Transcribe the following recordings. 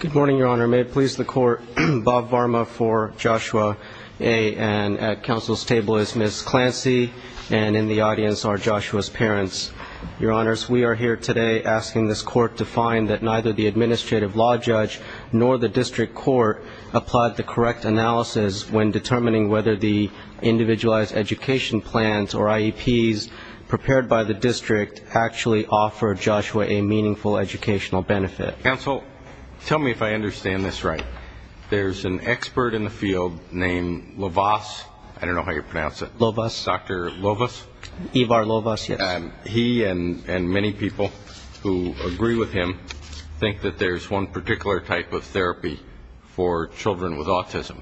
Good morning, Your Honor. May it please the Court, Bob Varma for Joshua A. And at Council's table is Ms. Clancy, and in the audience are Joshua's parents. Your Honors, we are here today asking this Court to find that neither the administrative law judge nor the district court applied the correct analysis when determining whether the Individualized Education Plans, or IEPs, prepared by the district actually offered Joshua a meaningful educational benefit. Counsel, tell me if I understand this right. There's an expert in the field named Lovas. I don't know how you pronounce it. Lovas. Dr. Lovas? Ivar Lovas, yes. He and many people who agree with him think that there's one particular type of therapy for children with autism.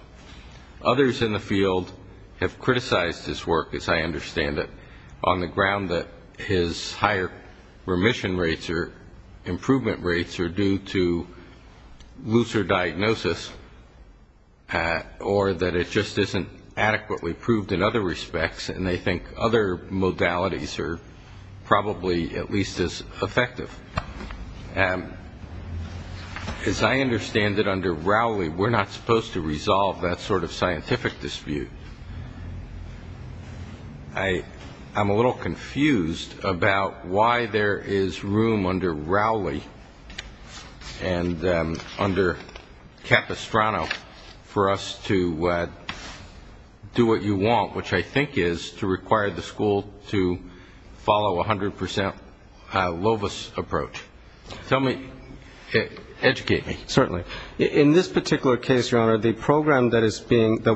Others in the field have criticized his work, as I understand it, on the ground that his higher remission rates or improvement rates are due to looser diagnosis or that it just isn't adequately proved in other respects, and they think other modalities are probably at least as effective. As I understand it, under Rowley, we're not supposed to resolve that sort of scientific dispute. I'm a little confused about why there is room under Rowley and under Capistrano for us to do what you want, which I think is to require the school to follow 100 percent Lovas approach. Tell me, educate me. Certainly. In this particular case, Your Honor, the program that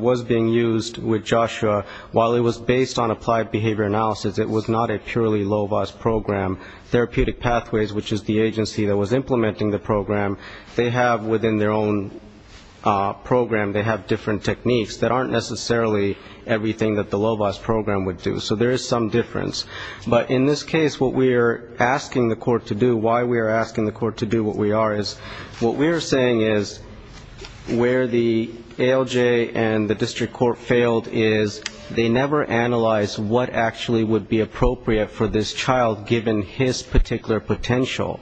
was being used with Joshua, while it was based on applied behavior analysis, it was not a purely Lovas program. Therapeutic Pathways, which is the agency that was implementing the program, they have within their own program, they have different techniques that aren't necessarily everything that the Lovas program would do. So there is some difference. But in this case, what we are asking the court to do, why we are asking the court to do what we are, is what we are saying is where the ALJ and the district court failed is they never analyzed what actually would be appropriate for this child, given his particular potential.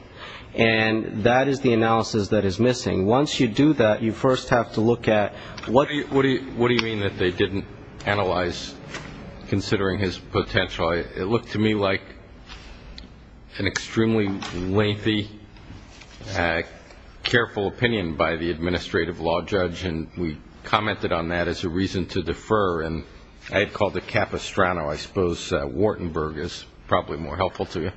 And that is the analysis that is missing. Once you do that, you first have to look at what do you mean that they didn't analyze, considering his potential? It looked to me like an extremely lengthy, careful opinion by the administrative law judge, and we commented on that as a reason to defer. And I had called it Capistrano. I suppose Wartenberg is probably more helpful to you.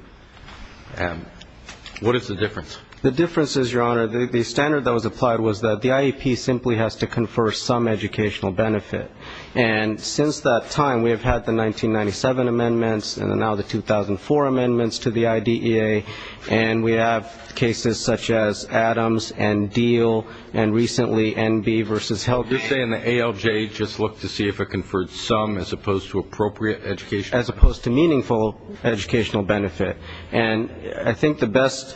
What is the difference? The difference is, Your Honor, the standard that was applied was that the IEP simply has to confer some educational benefit. And since that time, we have had the 1997 amendments and now the 2004 amendments to the IDEA, and we have cases such as Adams and Diehl and recently NB versus Heldman. You're saying the ALJ just looked to see if it conferred some as opposed to appropriate educational benefit? As opposed to meaningful educational benefit. And I think the best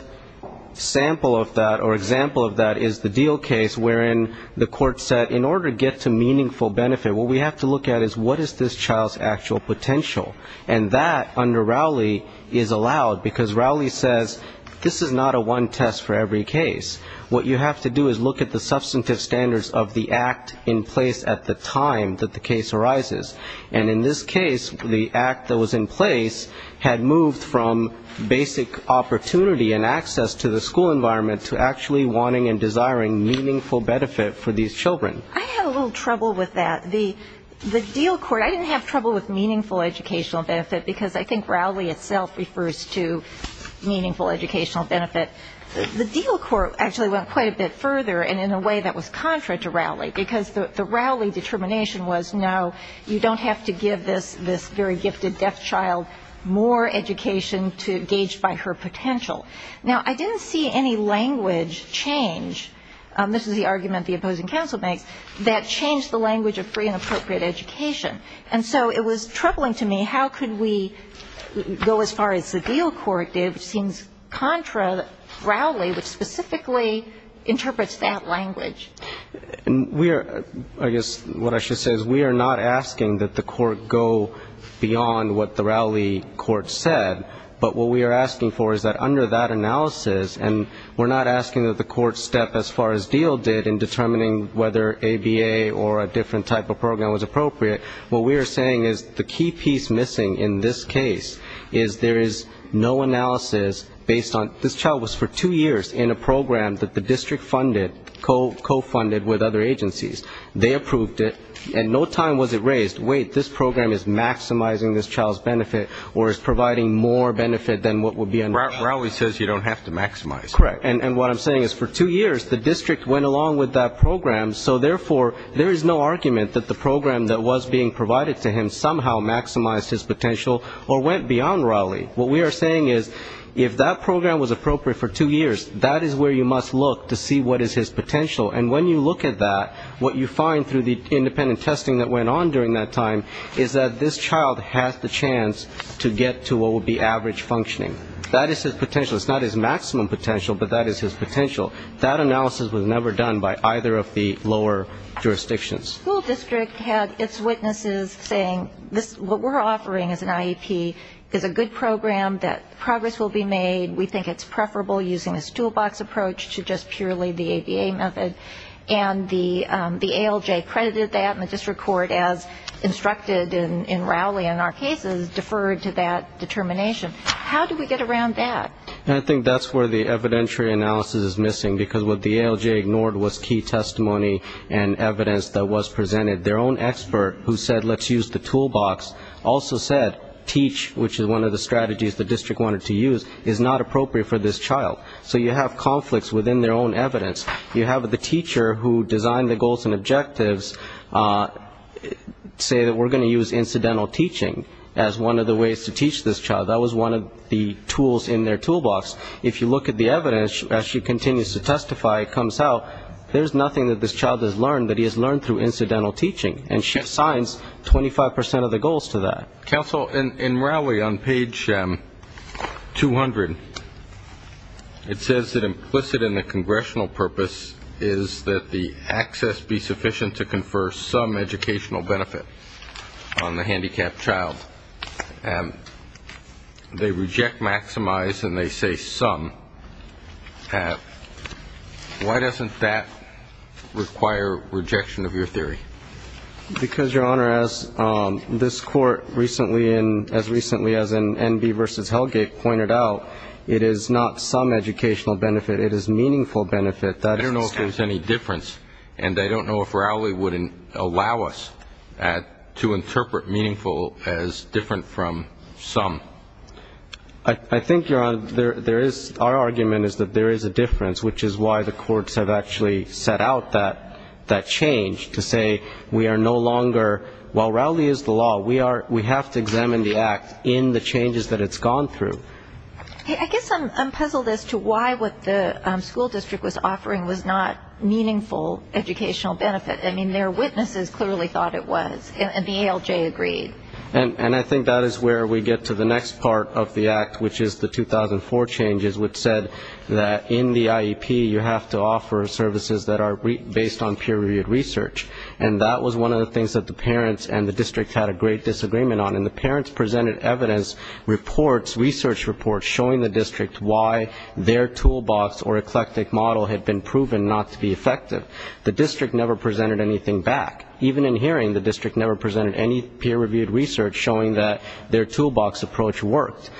sample of that or example of that is the Diehl case, wherein the court said in order to get to meaningful benefit, what we have to look at is what is this child's actual potential? And that, under Rowley, is allowed, because Rowley says this is not a one test for every case. What you have to do is look at the substantive standards of the act in place at the time that the case arises. And in this case, the act that was in place had moved from basic opportunity and access to the school environment to actually wanting and desiring meaningful benefit for these children. I had a little trouble with that. The Diehl court, I didn't have trouble with meaningful educational benefit, because I think Rowley itself refers to meaningful educational benefit. The Diehl court actually went quite a bit further and in a way that was contrary to Rowley, because the Rowley determination was, no, you don't have to give this very gifted deaf child more education to gauge by her potential. Now, I didn't see any language change. This is the argument the opposing counsel makes, that changed the language of free and appropriate education. And so it was troubling to me, how could we go as far as the Diehl court did, which seems contra Rowley, which specifically interprets that language. I guess what I should say is we are not asking that the court go beyond what the Rowley court said, but what we are asking for is that under that analysis, and we're not asking that the court step as far as Diehl did in determining whether ABA or a different type of program was appropriate, what we are saying is the key piece missing in this case is there is no analysis based on, this child was for two years in a program that the district funded, co-funded with other agencies. They approved it. And no time was it raised, wait, this program is maximizing this child's benefit or is providing more benefit than what would be understood. Rowley says you don't have to maximize. Correct. And what I'm saying is for two years the district went along with that program, so therefore there is no argument that the program that was being provided to him somehow maximized his potential or went beyond Rowley. What we are saying is if that program was appropriate for two years, that is where you must look to see what is his potential. And when you look at that, what you find through the independent testing that went on during that time is that this child has the chance to get to what would be average functioning. That is his potential. It's not his maximum potential, but that is his potential. That analysis was never done by either of the lower jurisdictions. The school district had its witnesses saying, what we're offering as an IEP is a good program, that progress will be made. We think it's preferable using a stoolbox approach to just purely the ABA method. And the ALJ credited that, and the district court, as instructed in Rowley in our cases, deferred to that determination. How do we get around that? I think that's where the evidentiary analysis is missing, because what the ALJ ignored was key testimony and evidence that was presented. Their own expert who said let's use the toolbox also said teach, which is one of the strategies the district wanted to use, is not appropriate for this child. So you have conflicts within their own evidence. You have the teacher who designed the goals and objectives say that we're going to use incidental teaching as one of the ways to teach this child. That was one of the tools in their toolbox. If you look at the evidence, as she continues to testify, it comes out there's nothing that this child has learned that he has learned through incidental teaching. And she assigns 25% of the goals to that. Counsel, in Rowley on page 200, it says that implicit in the congressional purpose is that the access be sufficient to confer some educational benefit on the handicapped child. They reject maximize and they say some. Why doesn't that require rejection of your theory? Because, Your Honor, as this Court recently in as recently as in Enby v. Hellgate pointed out, it is not some educational benefit. It is meaningful benefit. I don't know if there's any difference, and I don't know if Rowley would allow us to interpret meaningful as different from some. I think, Your Honor, our argument is that there is a difference, which is why the courts have actually set out that change to say we are no longer, while Rowley is the law, we have to examine the act in the changes that it's gone through. I guess I'm puzzled as to why what the school district was offering was not meaningful educational benefit. I mean, their witnesses clearly thought it was, and the ALJ agreed. And I think that is where we get to the next part of the act, which is the 2004 changes, which said that in the IEP you have to offer services that are based on peer-reviewed research. And that was one of the things that the parents and the district had a great disagreement on. And the parents presented evidence reports, research reports, showing the district why their toolbox or eclectic model had been proven not to be effective. The district never presented anything back. Even in hearing, the district never presented any peer-reviewed research, showing that their toolbox approach worked.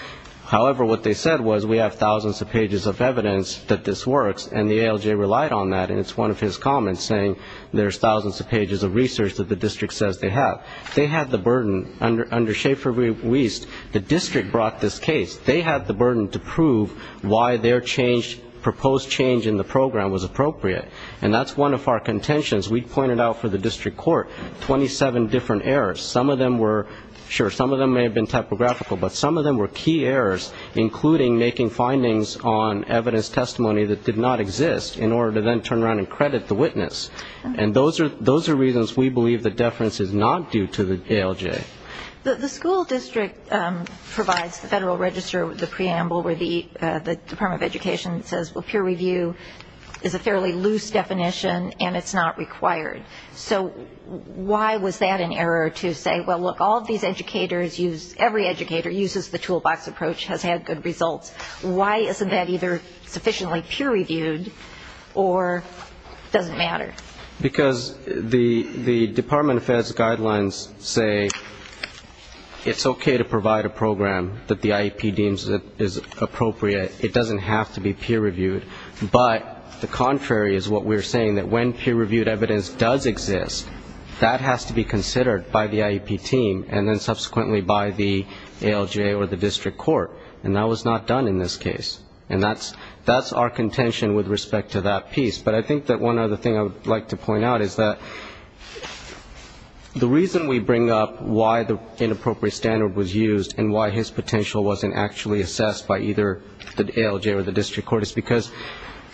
However, what they said was we have thousands of pages of evidence that this works, and the ALJ relied on that, and it's one of his comments, saying there's thousands of pages of research that the district says they have. They had the burden, under Schaefer-Wiest, the district brought this case. They had the burden to prove why their proposed change in the program was appropriate. And that's one of our contentions. We pointed out for the district court 27 different errors. Some of them were, sure, some of them may have been typographical, but some of them were key errors, including making findings on evidence testimony that did not exist, in order to then turn around and credit the witness. And those are reasons we believe the deference is not due to the ALJ. The school district provides the Federal Register with a preamble where the Department of Education says, well, peer review is a fairly loose definition, and it's not required. So why was that an error to say, well, look, all of these educators use, every educator uses the toolbox approach, has had good results. Why isn't that either sufficiently peer reviewed or doesn't matter? Because the Department of Ed's guidelines say it's okay to provide a program that the IEP deems is appropriate. It doesn't have to be peer reviewed. But the contrary is what we're saying, that when peer reviewed evidence does exist, that has to be considered by the IEP team and then subsequently by the ALJ or the district court. And that was not done in this case. And that's our contention with respect to that piece. But I think that one other thing I would like to point out is that the reason we bring up why the inappropriate standard was used and why his potential wasn't actually assessed by either the ALJ or the district court is because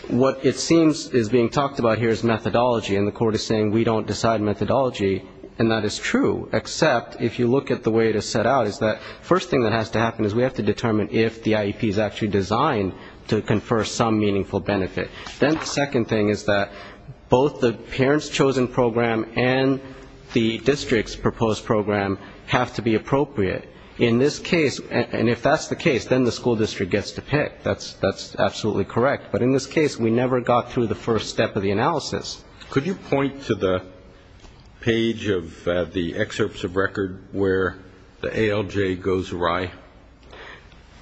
what it seems is being talked about here is methodology, and the court is saying we don't decide methodology, and that is true, except if you look at the way it is set out, is that the first thing that has to happen is we have to determine if the IEP is actually designed to confer some meaningful benefit. Then the second thing is that both the parent's chosen program and the district's proposed program have to be appropriate. In this case, and if that's the case, then the school district gets to pick. That's absolutely correct. But in this case, we never got through the first step of the analysis. Could you point to the page of the excerpts of record where the ALJ goes awry?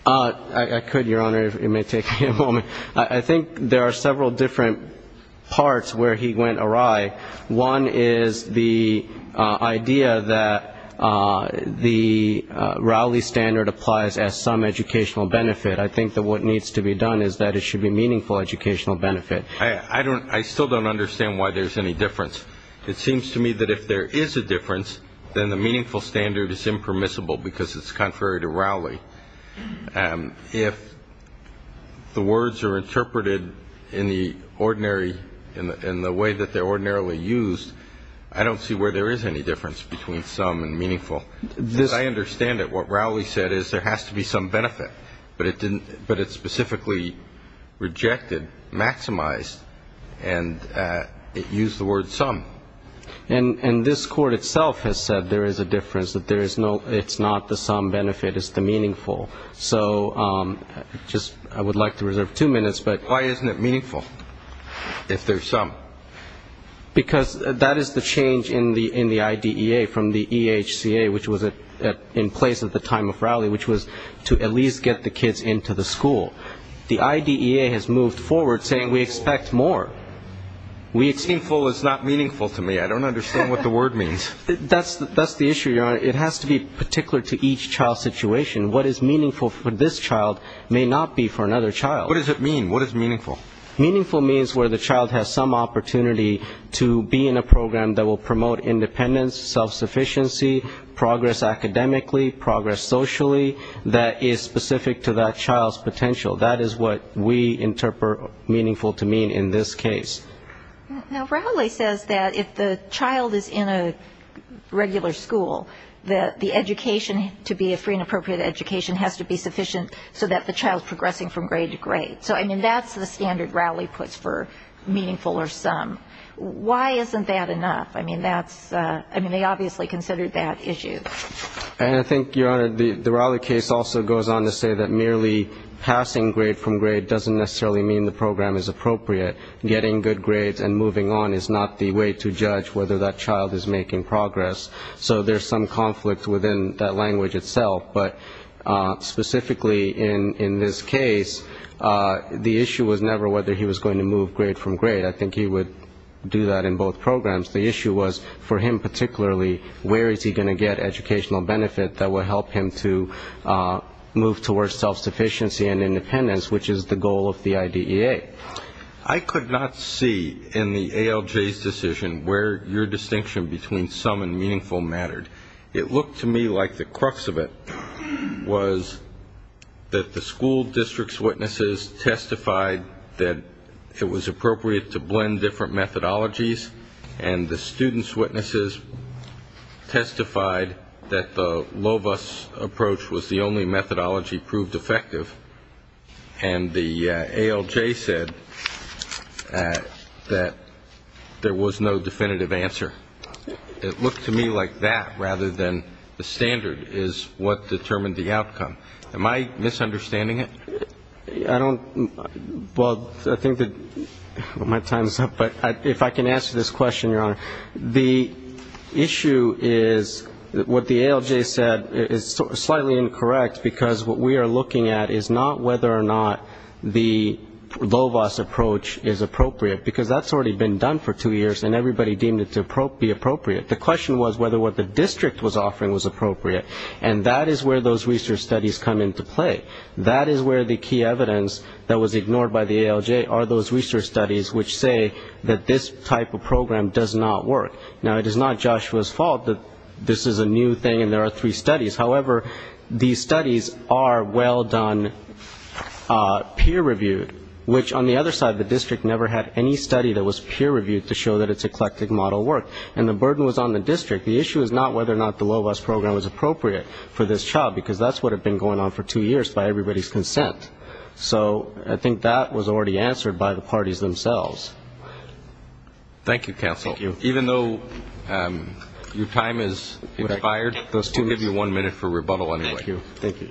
I could, Your Honor, if it may take me a moment. I think there are several different parts where he went awry. One is the idea that the Rowley standard applies as some educational benefit. I think that what needs to be done is that it should be meaningful educational benefit. I still don't understand why there's any difference. It seems to me that if there is a difference, then the meaningful standard is impermissible because it's contrary to Rowley. If the words are interpreted in the ordinary, in the way that they're ordinarily used, I don't see where there is any difference between some and meaningful. As I understand it, what Rowley said is there has to be some benefit, but it's specifically rejected, maximized, and it used the word some. And this Court itself has said there is a difference, that it's not the some benefit, it's the meaningful. So I would like to reserve two minutes. Why isn't it meaningful if there's some? Because that is the change in the IDEA from the EHCA, which was in place at the time of Rowley, which was to at least get the kids into the school. The IDEA has moved forward saying we expect more. Meaningful is not meaningful to me. I don't understand what the word means. That's the issue, Your Honor. It has to be particular to each child's situation. What is meaningful for this child may not be for another child. What does it mean? What is meaningful? Meaningful means where the child has some opportunity to be in a program that will promote independence, self-sufficiency, progress academically, progress socially, that is specific to that child's potential. That is what we interpret meaningful to mean in this case. Now, Rowley says that if the child is in a regular school, that the education to be a free and appropriate education has to be sufficient so that the child's progressing from grade to grade. So, I mean, that's the standard Rowley puts for meaningful or some. Why isn't that enough? I mean, they obviously considered that issue. And I think, Your Honor, the Rowley case also goes on to say that merely passing grade from grade doesn't necessarily mean the program is appropriate. Getting good grades and moving on is not the way to judge whether that child is making progress. So there's some conflict within that language itself. But specifically in this case, the issue was never whether he was going to move grade from grade. I think he would do that in both programs. The issue was, for him particularly, where is he going to get educational benefit that will help him to move towards self-sufficiency and independence, which is the goal of the IDEA. I could not see in the ALJ's decision where your distinction between some and meaningful mattered. It looked to me like the crux of it was that the school district's witnesses testified that it was appropriate to blend different methodologies, and the students' witnesses testified that the LOVIS approach was the only methodology proved effective, and the ALJ said that there was no definitive answer. It looked to me like that rather than the standard is what determined the outcome. Am I misunderstanding it? Well, I think that my time is up, but if I can answer this question, Your Honor. The issue is what the ALJ said is slightly incorrect, because what we are looking at is not whether or not the LOVIS approach is appropriate, because that's already been done for two years, and everybody deemed it to be appropriate. The question was whether what the district was offering was appropriate, and that is where those research studies come into play. That is where the key evidence that was ignored by the ALJ are those research studies which say that this type of program does not work. Now, it is not Joshua's fault that this is a new thing and there are three studies. However, these studies are well done, peer-reviewed, which on the other side, the district never had any study that was peer-reviewed to show that its eclectic model worked, and the burden was on the district. The issue is not whether or not the LOVIS program was appropriate for this child, because that's what had been going on for two years by everybody's consent. So I think that was already answered by the parties themselves. Thank you, counsel. Thank you. Even though your time has expired, we'll give you one minute for rebuttal anyway. Thank you. Thank you.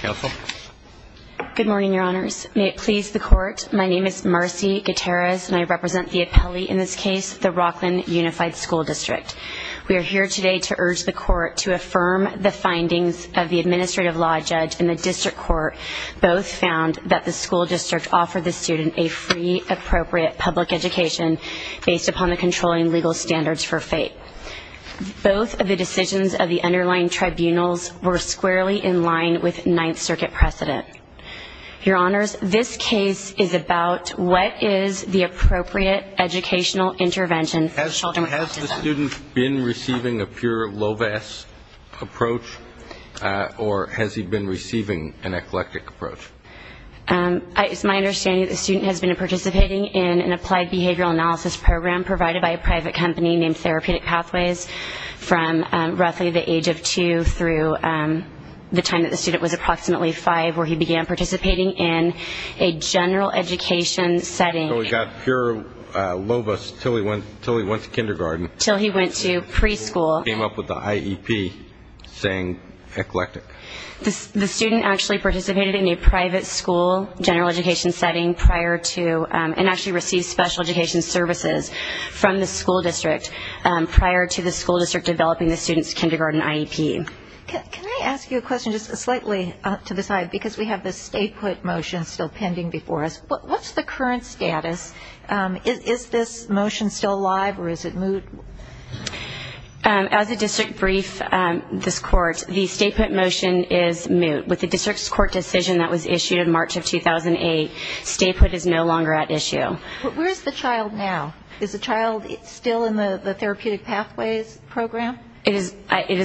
Counsel. Good morning, Your Honors. May it please the Court, my name is Marcy Gutierrez and I represent the appellee in this case, the Rockland Unified School District. We are here today to urge the Court to affirm the findings of the administrative law judge and the district court both found that the school district offered the student a free, appropriate public education based upon the controlling legal standards for fate. Both of the decisions of the underlying tribunals were squarely in line with Ninth Circuit precedent. Your Honors, this case is about what is the appropriate educational intervention. Has the student been receiving a pure LOVIS approach, or has he been receiving an eclectic approach? It's my understanding that the student has been participating in an applied behavioral analysis program provided by a private company named Therapeutic Pathways from roughly the age of two through the time that the student was approximately five, where he began participating in a general education setting. So he got pure LOVIS until he went to kindergarten. Until he went to preschool. Came up with the IEP saying eclectic. The student actually participated in a private school general education setting prior to and actually received special education services from the school district prior to the school district developing the student's kindergarten IEP. Can I ask you a question just slightly to the side? Because we have the stay put motion still pending before us. What's the current status? Is this motion still live, or is it moot? As a district brief, this Court, the stay put motion is moot. With the district's Court decision that was issued in March of 2008, stay put is no longer at issue. But where is the child now? Is the child still in the Therapeutic Pathways program? It is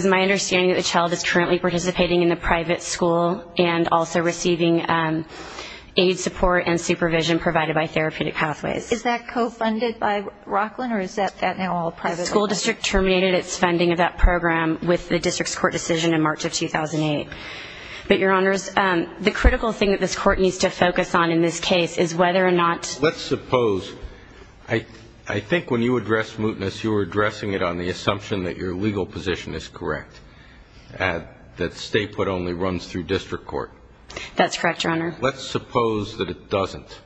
my understanding that the child is currently participating in a private school and also receiving aid support and supervision provided by Therapeutic Pathways. Is that co-funded by Rocklin, or is that now all private? The school district terminated its funding of that program with the district's Court decision in March of 2008. But, Your Honors, the critical thing that this Court needs to focus on in this case is whether or not Let's suppose, I think when you addressed mootness, you were addressing it on the assumption that your legal position is correct, that stay put only runs through district court. That's correct, Your Honor. Let's suppose that it doesn't.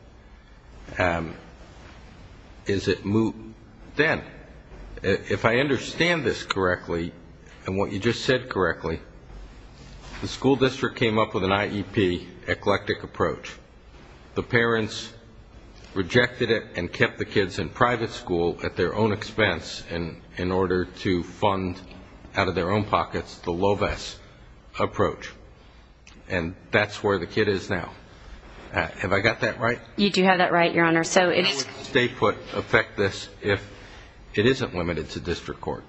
Is it moot then? If I understand this correctly, and what you just said correctly, the school district came up with an IEP, eclectic approach. The parents rejected it and kept the kids in private school at their own expense in order to fund, out of their own pockets, the LOBES approach. And that's where the kid is now. Have I got that right? You do have that right, Your Honor. How would stay put affect this if it isn't limited to district court?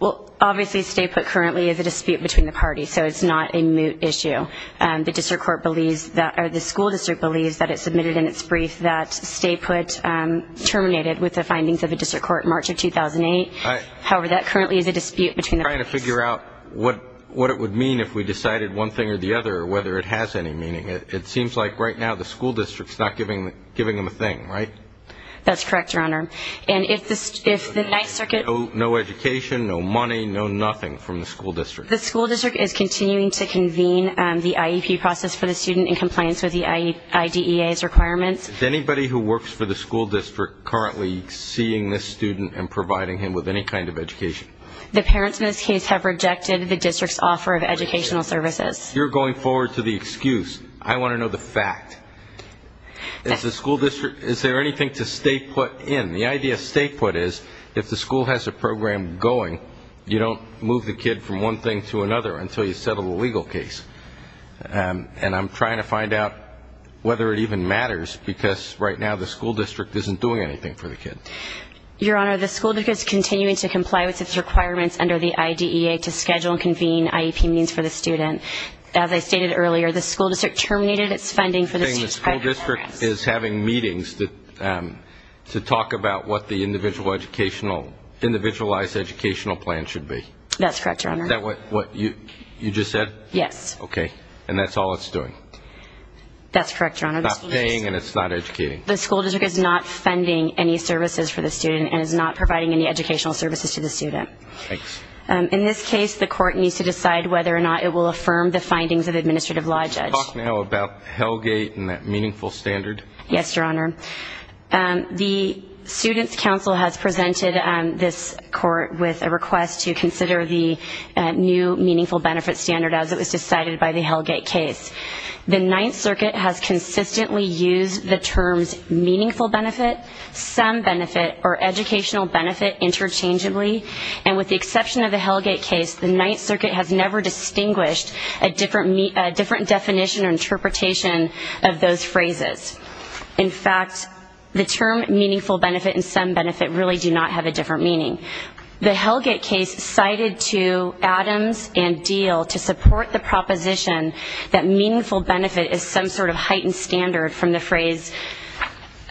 Well, obviously, stay put currently is a dispute between the parties, so it's not a moot issue. The school district believes that it submitted in its brief that stay put terminated with the findings of the district court in March of 2008. However, that currently is a dispute between the parties. I'm trying to figure out what it would mean if we decided one thing or the other, or whether it has any meaning. It seems like right now the school district is not giving them a thing, right? That's correct, Your Honor. And if the next circuit no education, no money, no nothing from the school district. The school district is continuing to convene the IEP process for the student in compliance with the IDEA's requirements. Is anybody who works for the school district currently seeing this student and providing him with any kind of education? The parents in this case have rejected the district's offer of educational services. You're going forward to the excuse. I want to know the fact. Is the school district, is there anything to stay put in? The idea of stay put is if the school has a program going, you don't move the kid from one thing to another until you settle the legal case. And I'm trying to find out whether it even matters, because right now the school district isn't doing anything for the kid. Your Honor, the school district is continuing to comply with its requirements under the IDEA to schedule and convene IEP meetings for the student. As I stated earlier, the school district terminated its funding for the district's program. You're saying the school district is having meetings to talk about what the individualized educational plan should be? That's correct, Your Honor. Is that what you just said? Yes. Okay. And that's all it's doing? That's correct, Your Honor. It's not paying and it's not educating. The school district is not funding any services for the student and is not providing any educational services to the student. Thanks. In this case, the court needs to decide whether or not it will affirm the findings of the administrative law judge. Can you talk now about Hellgate and that meaningful standard? Yes, Your Honor. The Students' Council has presented this court with a request to consider the new meaningful benefit standard as it was decided by the Hellgate case. The Ninth Circuit has consistently used the terms meaningful benefit, some benefit, or educational benefit interchangeably, and with the exception of the Hellgate case, the Ninth Circuit has never distinguished a different definition or interpretation of those phrases. In fact, the term meaningful benefit and some benefit really do not have a different meaning. The Hellgate case cited to Adams and Deal to support the proposition that meaningful benefit is some sort of heightened standard from the phrase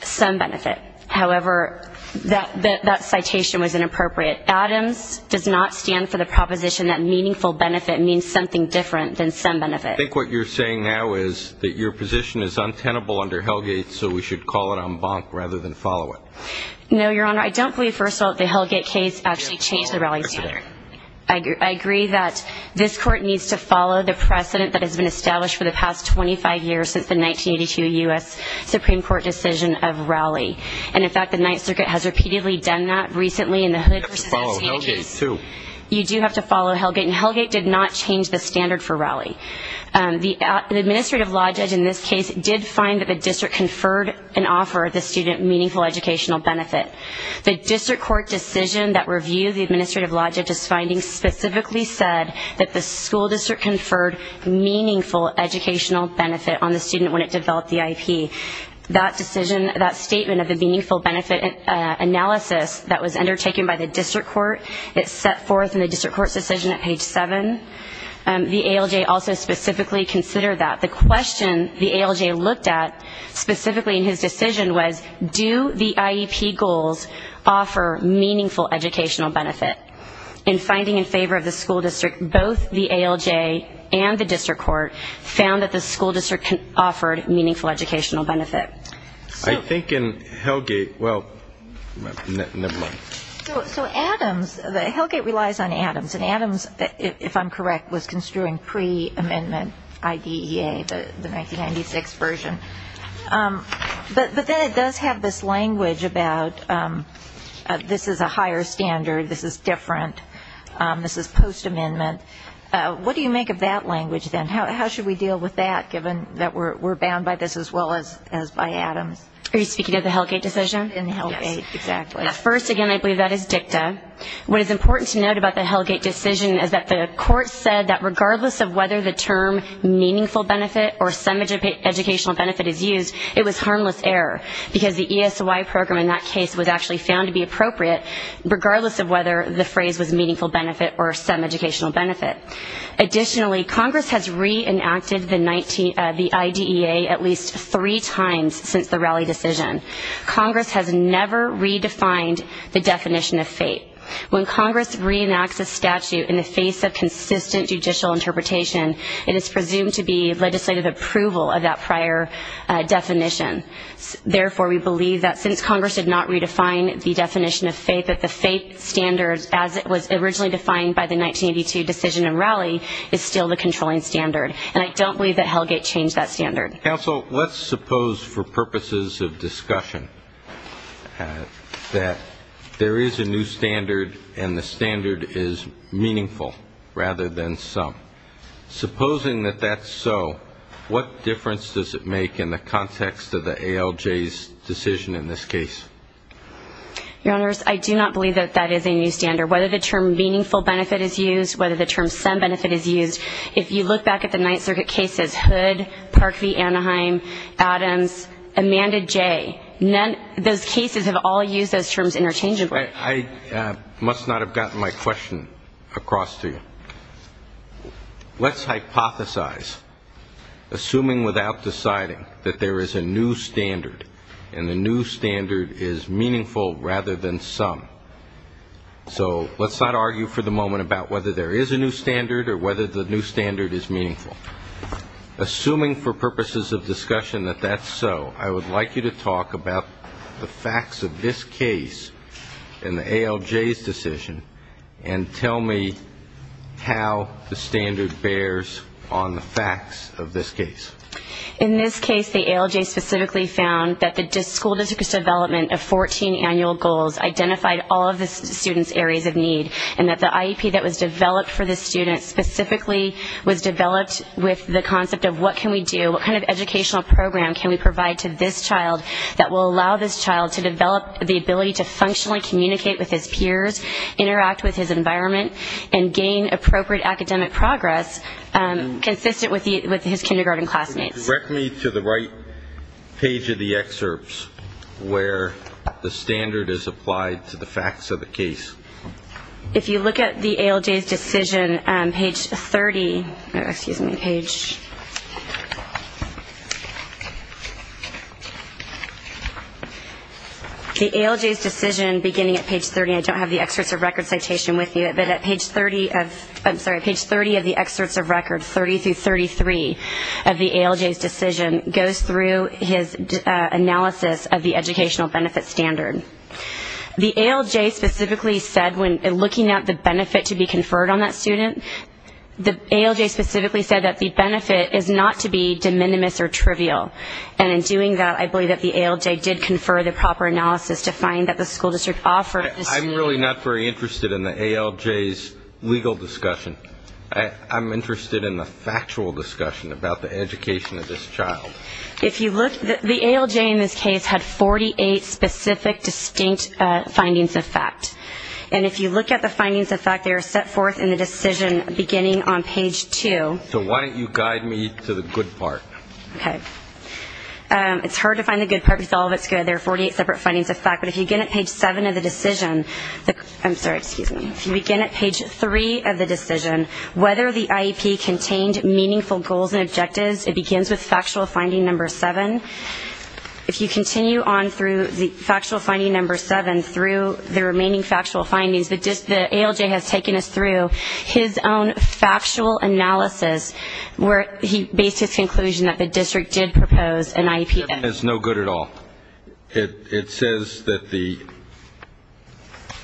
some benefit. However, that citation was inappropriate. Adams does not stand for the proposition that meaningful benefit means something different than some benefit. I think what you're saying now is that your position is untenable under Hellgate, so we should call it en banc rather than follow it. No, Your Honor. I don't believe, first of all, that the Hellgate case actually changed the rally standard. I agree that this court needs to follow the precedent that has been established for the past 25 years since the 1982 U.S. Supreme Court decision of rally. And, in fact, the Ninth Circuit has repeatedly done that recently in the Hood v. Hellgate case. You have to follow Hellgate, too. You do have to follow Hellgate. And Hellgate did not change the standard for rally. The administrative law judge in this case did find that the district conferred and offered the student meaningful educational benefit. The district court decision that reviewed the administrative law judge's findings specifically said that the school district conferred meaningful educational benefit on the student when it developed the IEP. That statement of the meaningful benefit analysis that was undertaken by the district court, it's set forth in the district court's decision at page 7. The ALJ also specifically considered that. The question the ALJ looked at specifically in his decision was, do the IEP goals offer meaningful educational benefit? In finding in favor of the school district, both the ALJ and the district court found that the school district offered meaningful educational benefit. I think in Hellgate, well, never mind. So Adams, Hellgate relies on Adams, and Adams, if I'm correct, was construing pre-amendment IDEA, the 1996 version. But then it does have this language about this is a higher standard, this is different, this is post-amendment. What do you make of that language, then? How should we deal with that, given that we're bound by this as well as by Adams? Are you speaking of the Hellgate decision? In Hellgate, exactly. First, again, I believe that is dicta. What is important to note about the Hellgate decision is that the court said that regardless of whether the term meaningful benefit or some educational benefit is used, it was harmless error, because the ESY program in that case was actually found to be appropriate, regardless of whether the phrase was meaningful benefit or some educational benefit. Additionally, Congress has reenacted the IDEA at least three times since the rally decision. Congress has never redefined the definition of fate. When Congress reenacts a statute in the face of consistent judicial interpretation, it is presumed to be legislative approval of that prior definition. Therefore, we believe that since Congress did not redefine the definition of fate, that the fate standard, as it was originally defined by the 1982 decision and rally, is still the controlling standard. And I don't believe that Hellgate changed that standard. Counsel, let's suppose for purposes of discussion that there is a new standard and the standard is meaningful rather than some. Supposing that that's so, what difference does it make in the context of the ALJ's decision in this case? Your Honors, I do not believe that that is a new standard. Whether the term meaningful benefit is used, whether the term some benefit is used, if you look back at the Ninth Circuit cases, Hood, Parkview, Anaheim, Adams, Amanda Jay, those cases have all used those terms interchangeably. I must not have gotten my question across to you. Let's hypothesize, assuming without deciding, that there is a new standard and the new standard is meaningful rather than some. So let's not argue for the moment about whether there is a new standard or whether the new standard is meaningful. Assuming for purposes of discussion that that's so, I would like you to talk about the facts of this case and the ALJ's decision and tell me how the standard bears on the facts of this case. In this case, the ALJ specifically found that the school district's development of 14 annual goals identified all of the students' areas of need, and that the IEP that was developed for the students specifically was developed with the concept of what can we do, what kind of educational program can we provide to this child that will allow this child to develop the ability to functionally communicate with his peers, interact with his environment, and gain appropriate academic progress consistent with his kindergarten classmates. Direct me to the right page of the excerpts where the standard is applied to the facts of the case. If you look at the ALJ's decision, page 30 of the excerpts of records, 30 through 33 of the ALJ's decision, goes through his analysis of the educational benefit standard. The ALJ specifically said when looking at the benefit to be conferred on that student, the ALJ specifically said that the benefit is not to be de minimis or trivial. And in doing that, I believe that the ALJ did confer the proper analysis to find that the school district offered. I'm really not very interested in the ALJ's legal discussion. I'm interested in the factual discussion about the education of this child. If you look, the ALJ in this case had 48 specific distinct findings of fact. And if you look at the findings of fact, they are set forth in the decision beginning on page 2. So why don't you guide me to the good part? Okay. It's hard to find the good part because all of it's good. There are 48 separate findings of fact. But if you begin at page 7 of the decision, I'm sorry, excuse me. If you begin at page 3 of the decision, whether the IEP contained meaningful goals and objectives, it begins with factual finding number 7. If you continue on through factual finding number 7 through the remaining factual findings, the ALJ has taken us through his own factual analysis where he based his conclusion that the district did propose an IEP. It's no good at all. It says that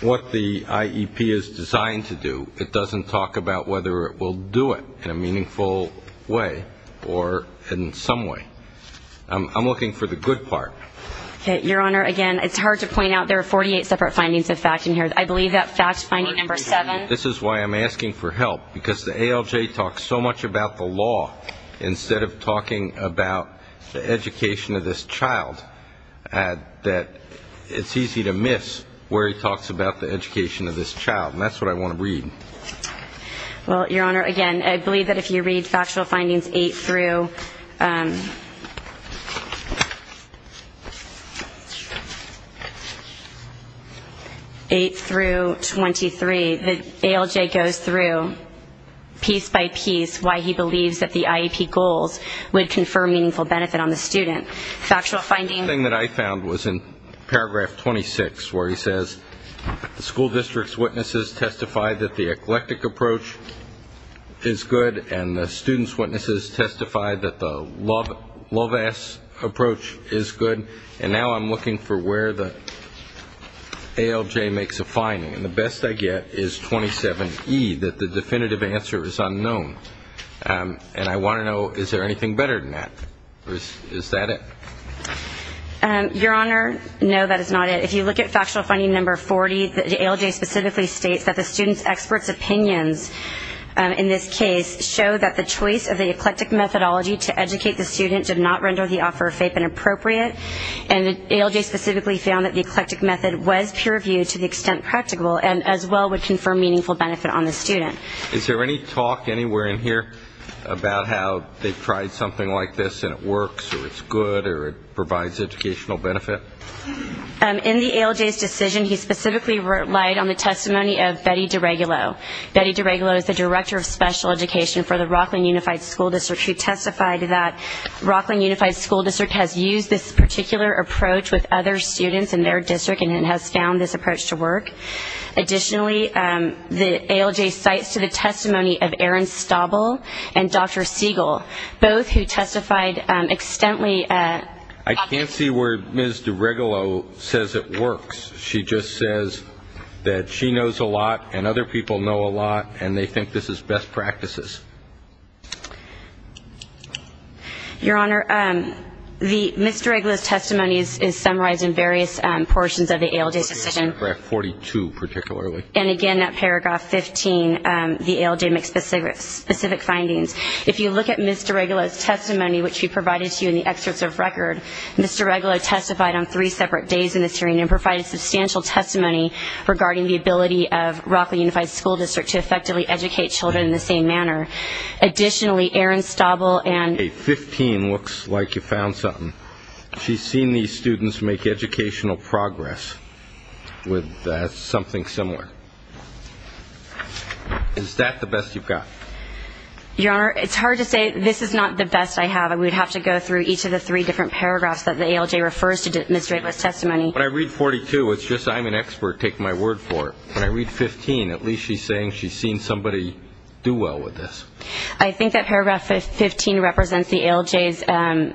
what the IEP is designed to do, it doesn't talk about whether it will do it in a meaningful way or in some way. I'm looking for the good part. Okay. Your Honor, again, it's hard to point out there are 48 separate findings of fact in here. I believe that fact finding number 7. This is why I'm asking for help because the ALJ talks so much about the law instead of talking about the education of this child that it's easy to miss where he talks about the education of this child. And that's what I want to read. Well, Your Honor, again, I believe that if you read factual findings 8 through 23, the ALJ goes through piece by piece why he believes that the IEP goals would confer meaningful benefit on the student. Factual finding. One thing that I found was in paragraph 26 where he says the school district's witnesses testified that the eclectic approach is good and the student's witnesses testified that the love-ass approach is good. And now I'm looking for where the ALJ makes a finding. And the best I get is 27E, that the definitive answer is unknown. And I want to know, is there anything better than that? Is that it? Your Honor, no, that is not it. If you look at factual finding number 40, the ALJ specifically states that the student's experts' opinions in this case show that the choice of the eclectic methodology to educate the student did not render the offer of FAPE inappropriate. And the ALJ specifically found that the eclectic method was peer-reviewed to the extent practicable and as well would confer meaningful benefit on the student. Is there any talk anywhere in here about how they've tried something like this and it works or it's good or it provides educational benefit? In the ALJ's decision, he specifically relied on the testimony of Betty DeRegulo. Betty DeRegulo is the director of special education for the Rockland Unified School District who testified that Rockland Unified School District has used this particular approach with other students in their district and has found this approach to work. Additionally, the ALJ cites to the testimony of Aaron Staubel and Dr. Siegel, both who testified extensively. I can't see where Ms. DeRegulo says it works. She just says that she knows a lot and other people know a lot and they think this is best practices. Your Honor, Ms. DeRegulo's testimony is summarized in various portions of the ALJ's decision. Paragraph 42, particularly. And again, that paragraph 15, the ALJ makes specific findings. If you look at Ms. DeRegulo's testimony, which she provided to you in the excerpts of record, Ms. DeRegulo testified on three separate days in this hearing and provided substantial testimony regarding the ability of Rockland Unified School District to effectively educate children in the same manner. Additionally, Aaron Staubel and... Paragraph 15 looks like you found something. She's seen these students make educational progress with something similar. Is that the best you've got? Your Honor, it's hard to say. This is not the best I have. We'd have to go through each of the three different paragraphs that the ALJ refers to in Ms. DeRegulo's testimony. When I read 42, it's just I'm an expert. Take my word for it. When I read 15, at least she's saying she's seen somebody do well with this. I think that paragraph 15 represents the ALJ's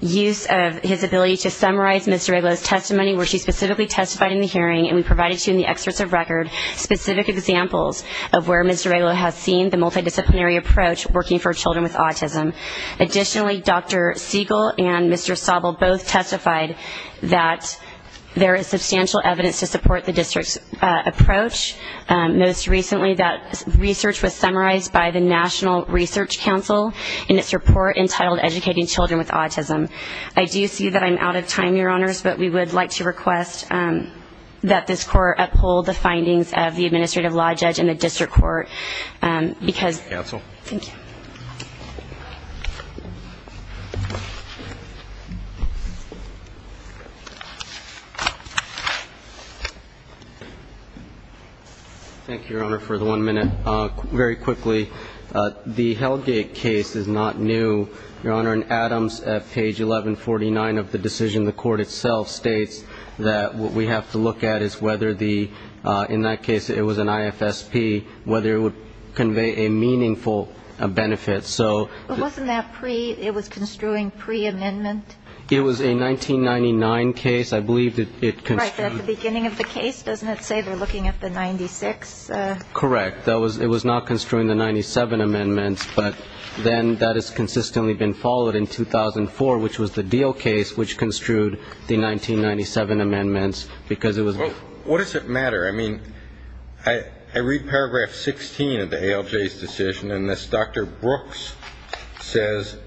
use of his ability to summarize Ms. DeRegulo's testimony where she specifically testified in the hearing, and we provided to you in the excerpts of record specific examples of where Ms. DeRegulo has seen the multidisciplinary approach working for children with autism. Additionally, Dr. Siegel and Mr. Staubel both testified that there is substantial evidence to support the district's approach. Most recently, that research was summarized by the National Research Council in its report entitled Educating Children with Autism. I do see that I'm out of time, Your Honors, but we would like to request that this Court uphold the findings of the Administrative Law Judge and the District Court because we have to. Thank you. Thank you, Your Honor, for the one minute. Very quickly, the Hellgate case is not new. Your Honor, in Adams at page 1149 of the decision, the Court itself states that what we have to look at is whether the ñ in that case it was an IFSP, whether it would convey a meaningful benefit. So ñ But wasn't that pre ñ it was construing pre-amendment? It was a 1999 case. I believe that it construed ñ At the beginning of the case, doesn't it say they're looking at the 96? Correct. It was not construing the 97 amendments, but then that has consistently been followed in 2004, which was the Deal case, which construed the 1997 amendments because it was ñ Well, what does it matter? I mean, I read paragraph 16 of the ALJ's decision, and this Dr. Brooks says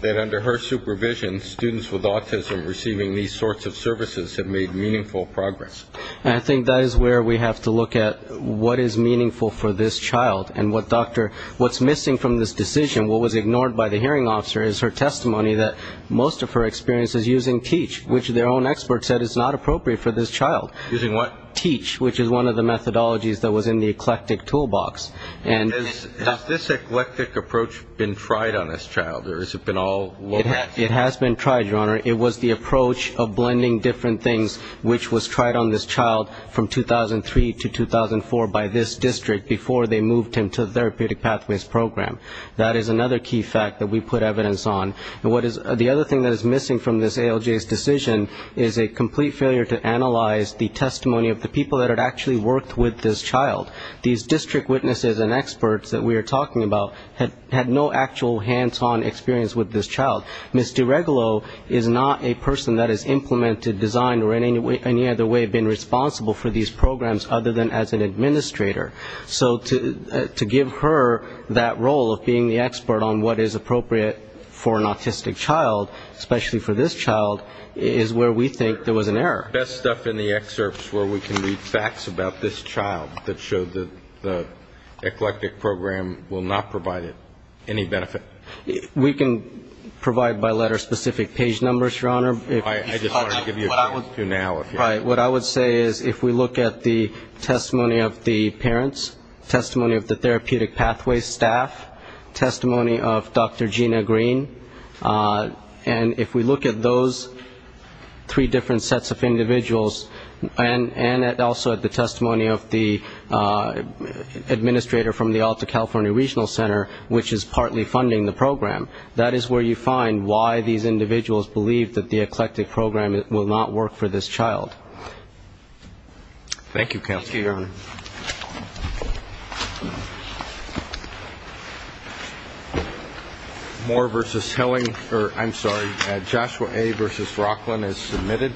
that under her supervision, students with autism receiving these sorts of services have made meaningful progress. I think that is where we have to look at what is meaningful for this child, and what Dr. ñ what's missing from this decision, what was ignored by the hearing officer, is her testimony that most of her experience is using TEACH, which their own expert said is not appropriate for this child. Using what? TEACH, which is one of the methodologies that was in the eclectic toolbox. Has this eclectic approach been tried on this child, or has it been all low pass? It has been tried, Your Honor. It was the approach of blending different things, which was tried on this child from 2003 to 2004 by this district, before they moved him to the therapeutic pathways program. That is another key fact that we put evidence on. And what is ñ the other thing that is missing from this ALJ's decision is a complete failure to analyze the testimony of the people that had actually worked with this child. These district witnesses and experts that we are talking about had no actual hands-on experience with this child. Ms. DiRegolo is not a person that has implemented, designed, or in any other way been responsible for these programs other than as an administrator. So to give her that role of being the expert on what is appropriate for an autistic child, especially for this child, is where we think there was an error. The best stuff in the excerpts where we can read facts about this child that show that the eclectic program will not provide it any benefit. We can provide by letter specific page numbers, Your Honor. I just wanted to give you a few now. What I would say is if we look at the testimony of the parents, testimony of the therapeutic pathway staff, testimony of Dr. Gina Green, and if we look at those three different sets of individuals, and also at the testimony of the administrator from the Alta California Regional Center, which is partly funding the program, that is where you find why these individuals believe that the eclectic program will not work for this child. Thank you, Counselor. Thank you, Your Honor. Moore v. Hilling, or I'm sorry, Joshua A. v. Rocklin is submitted.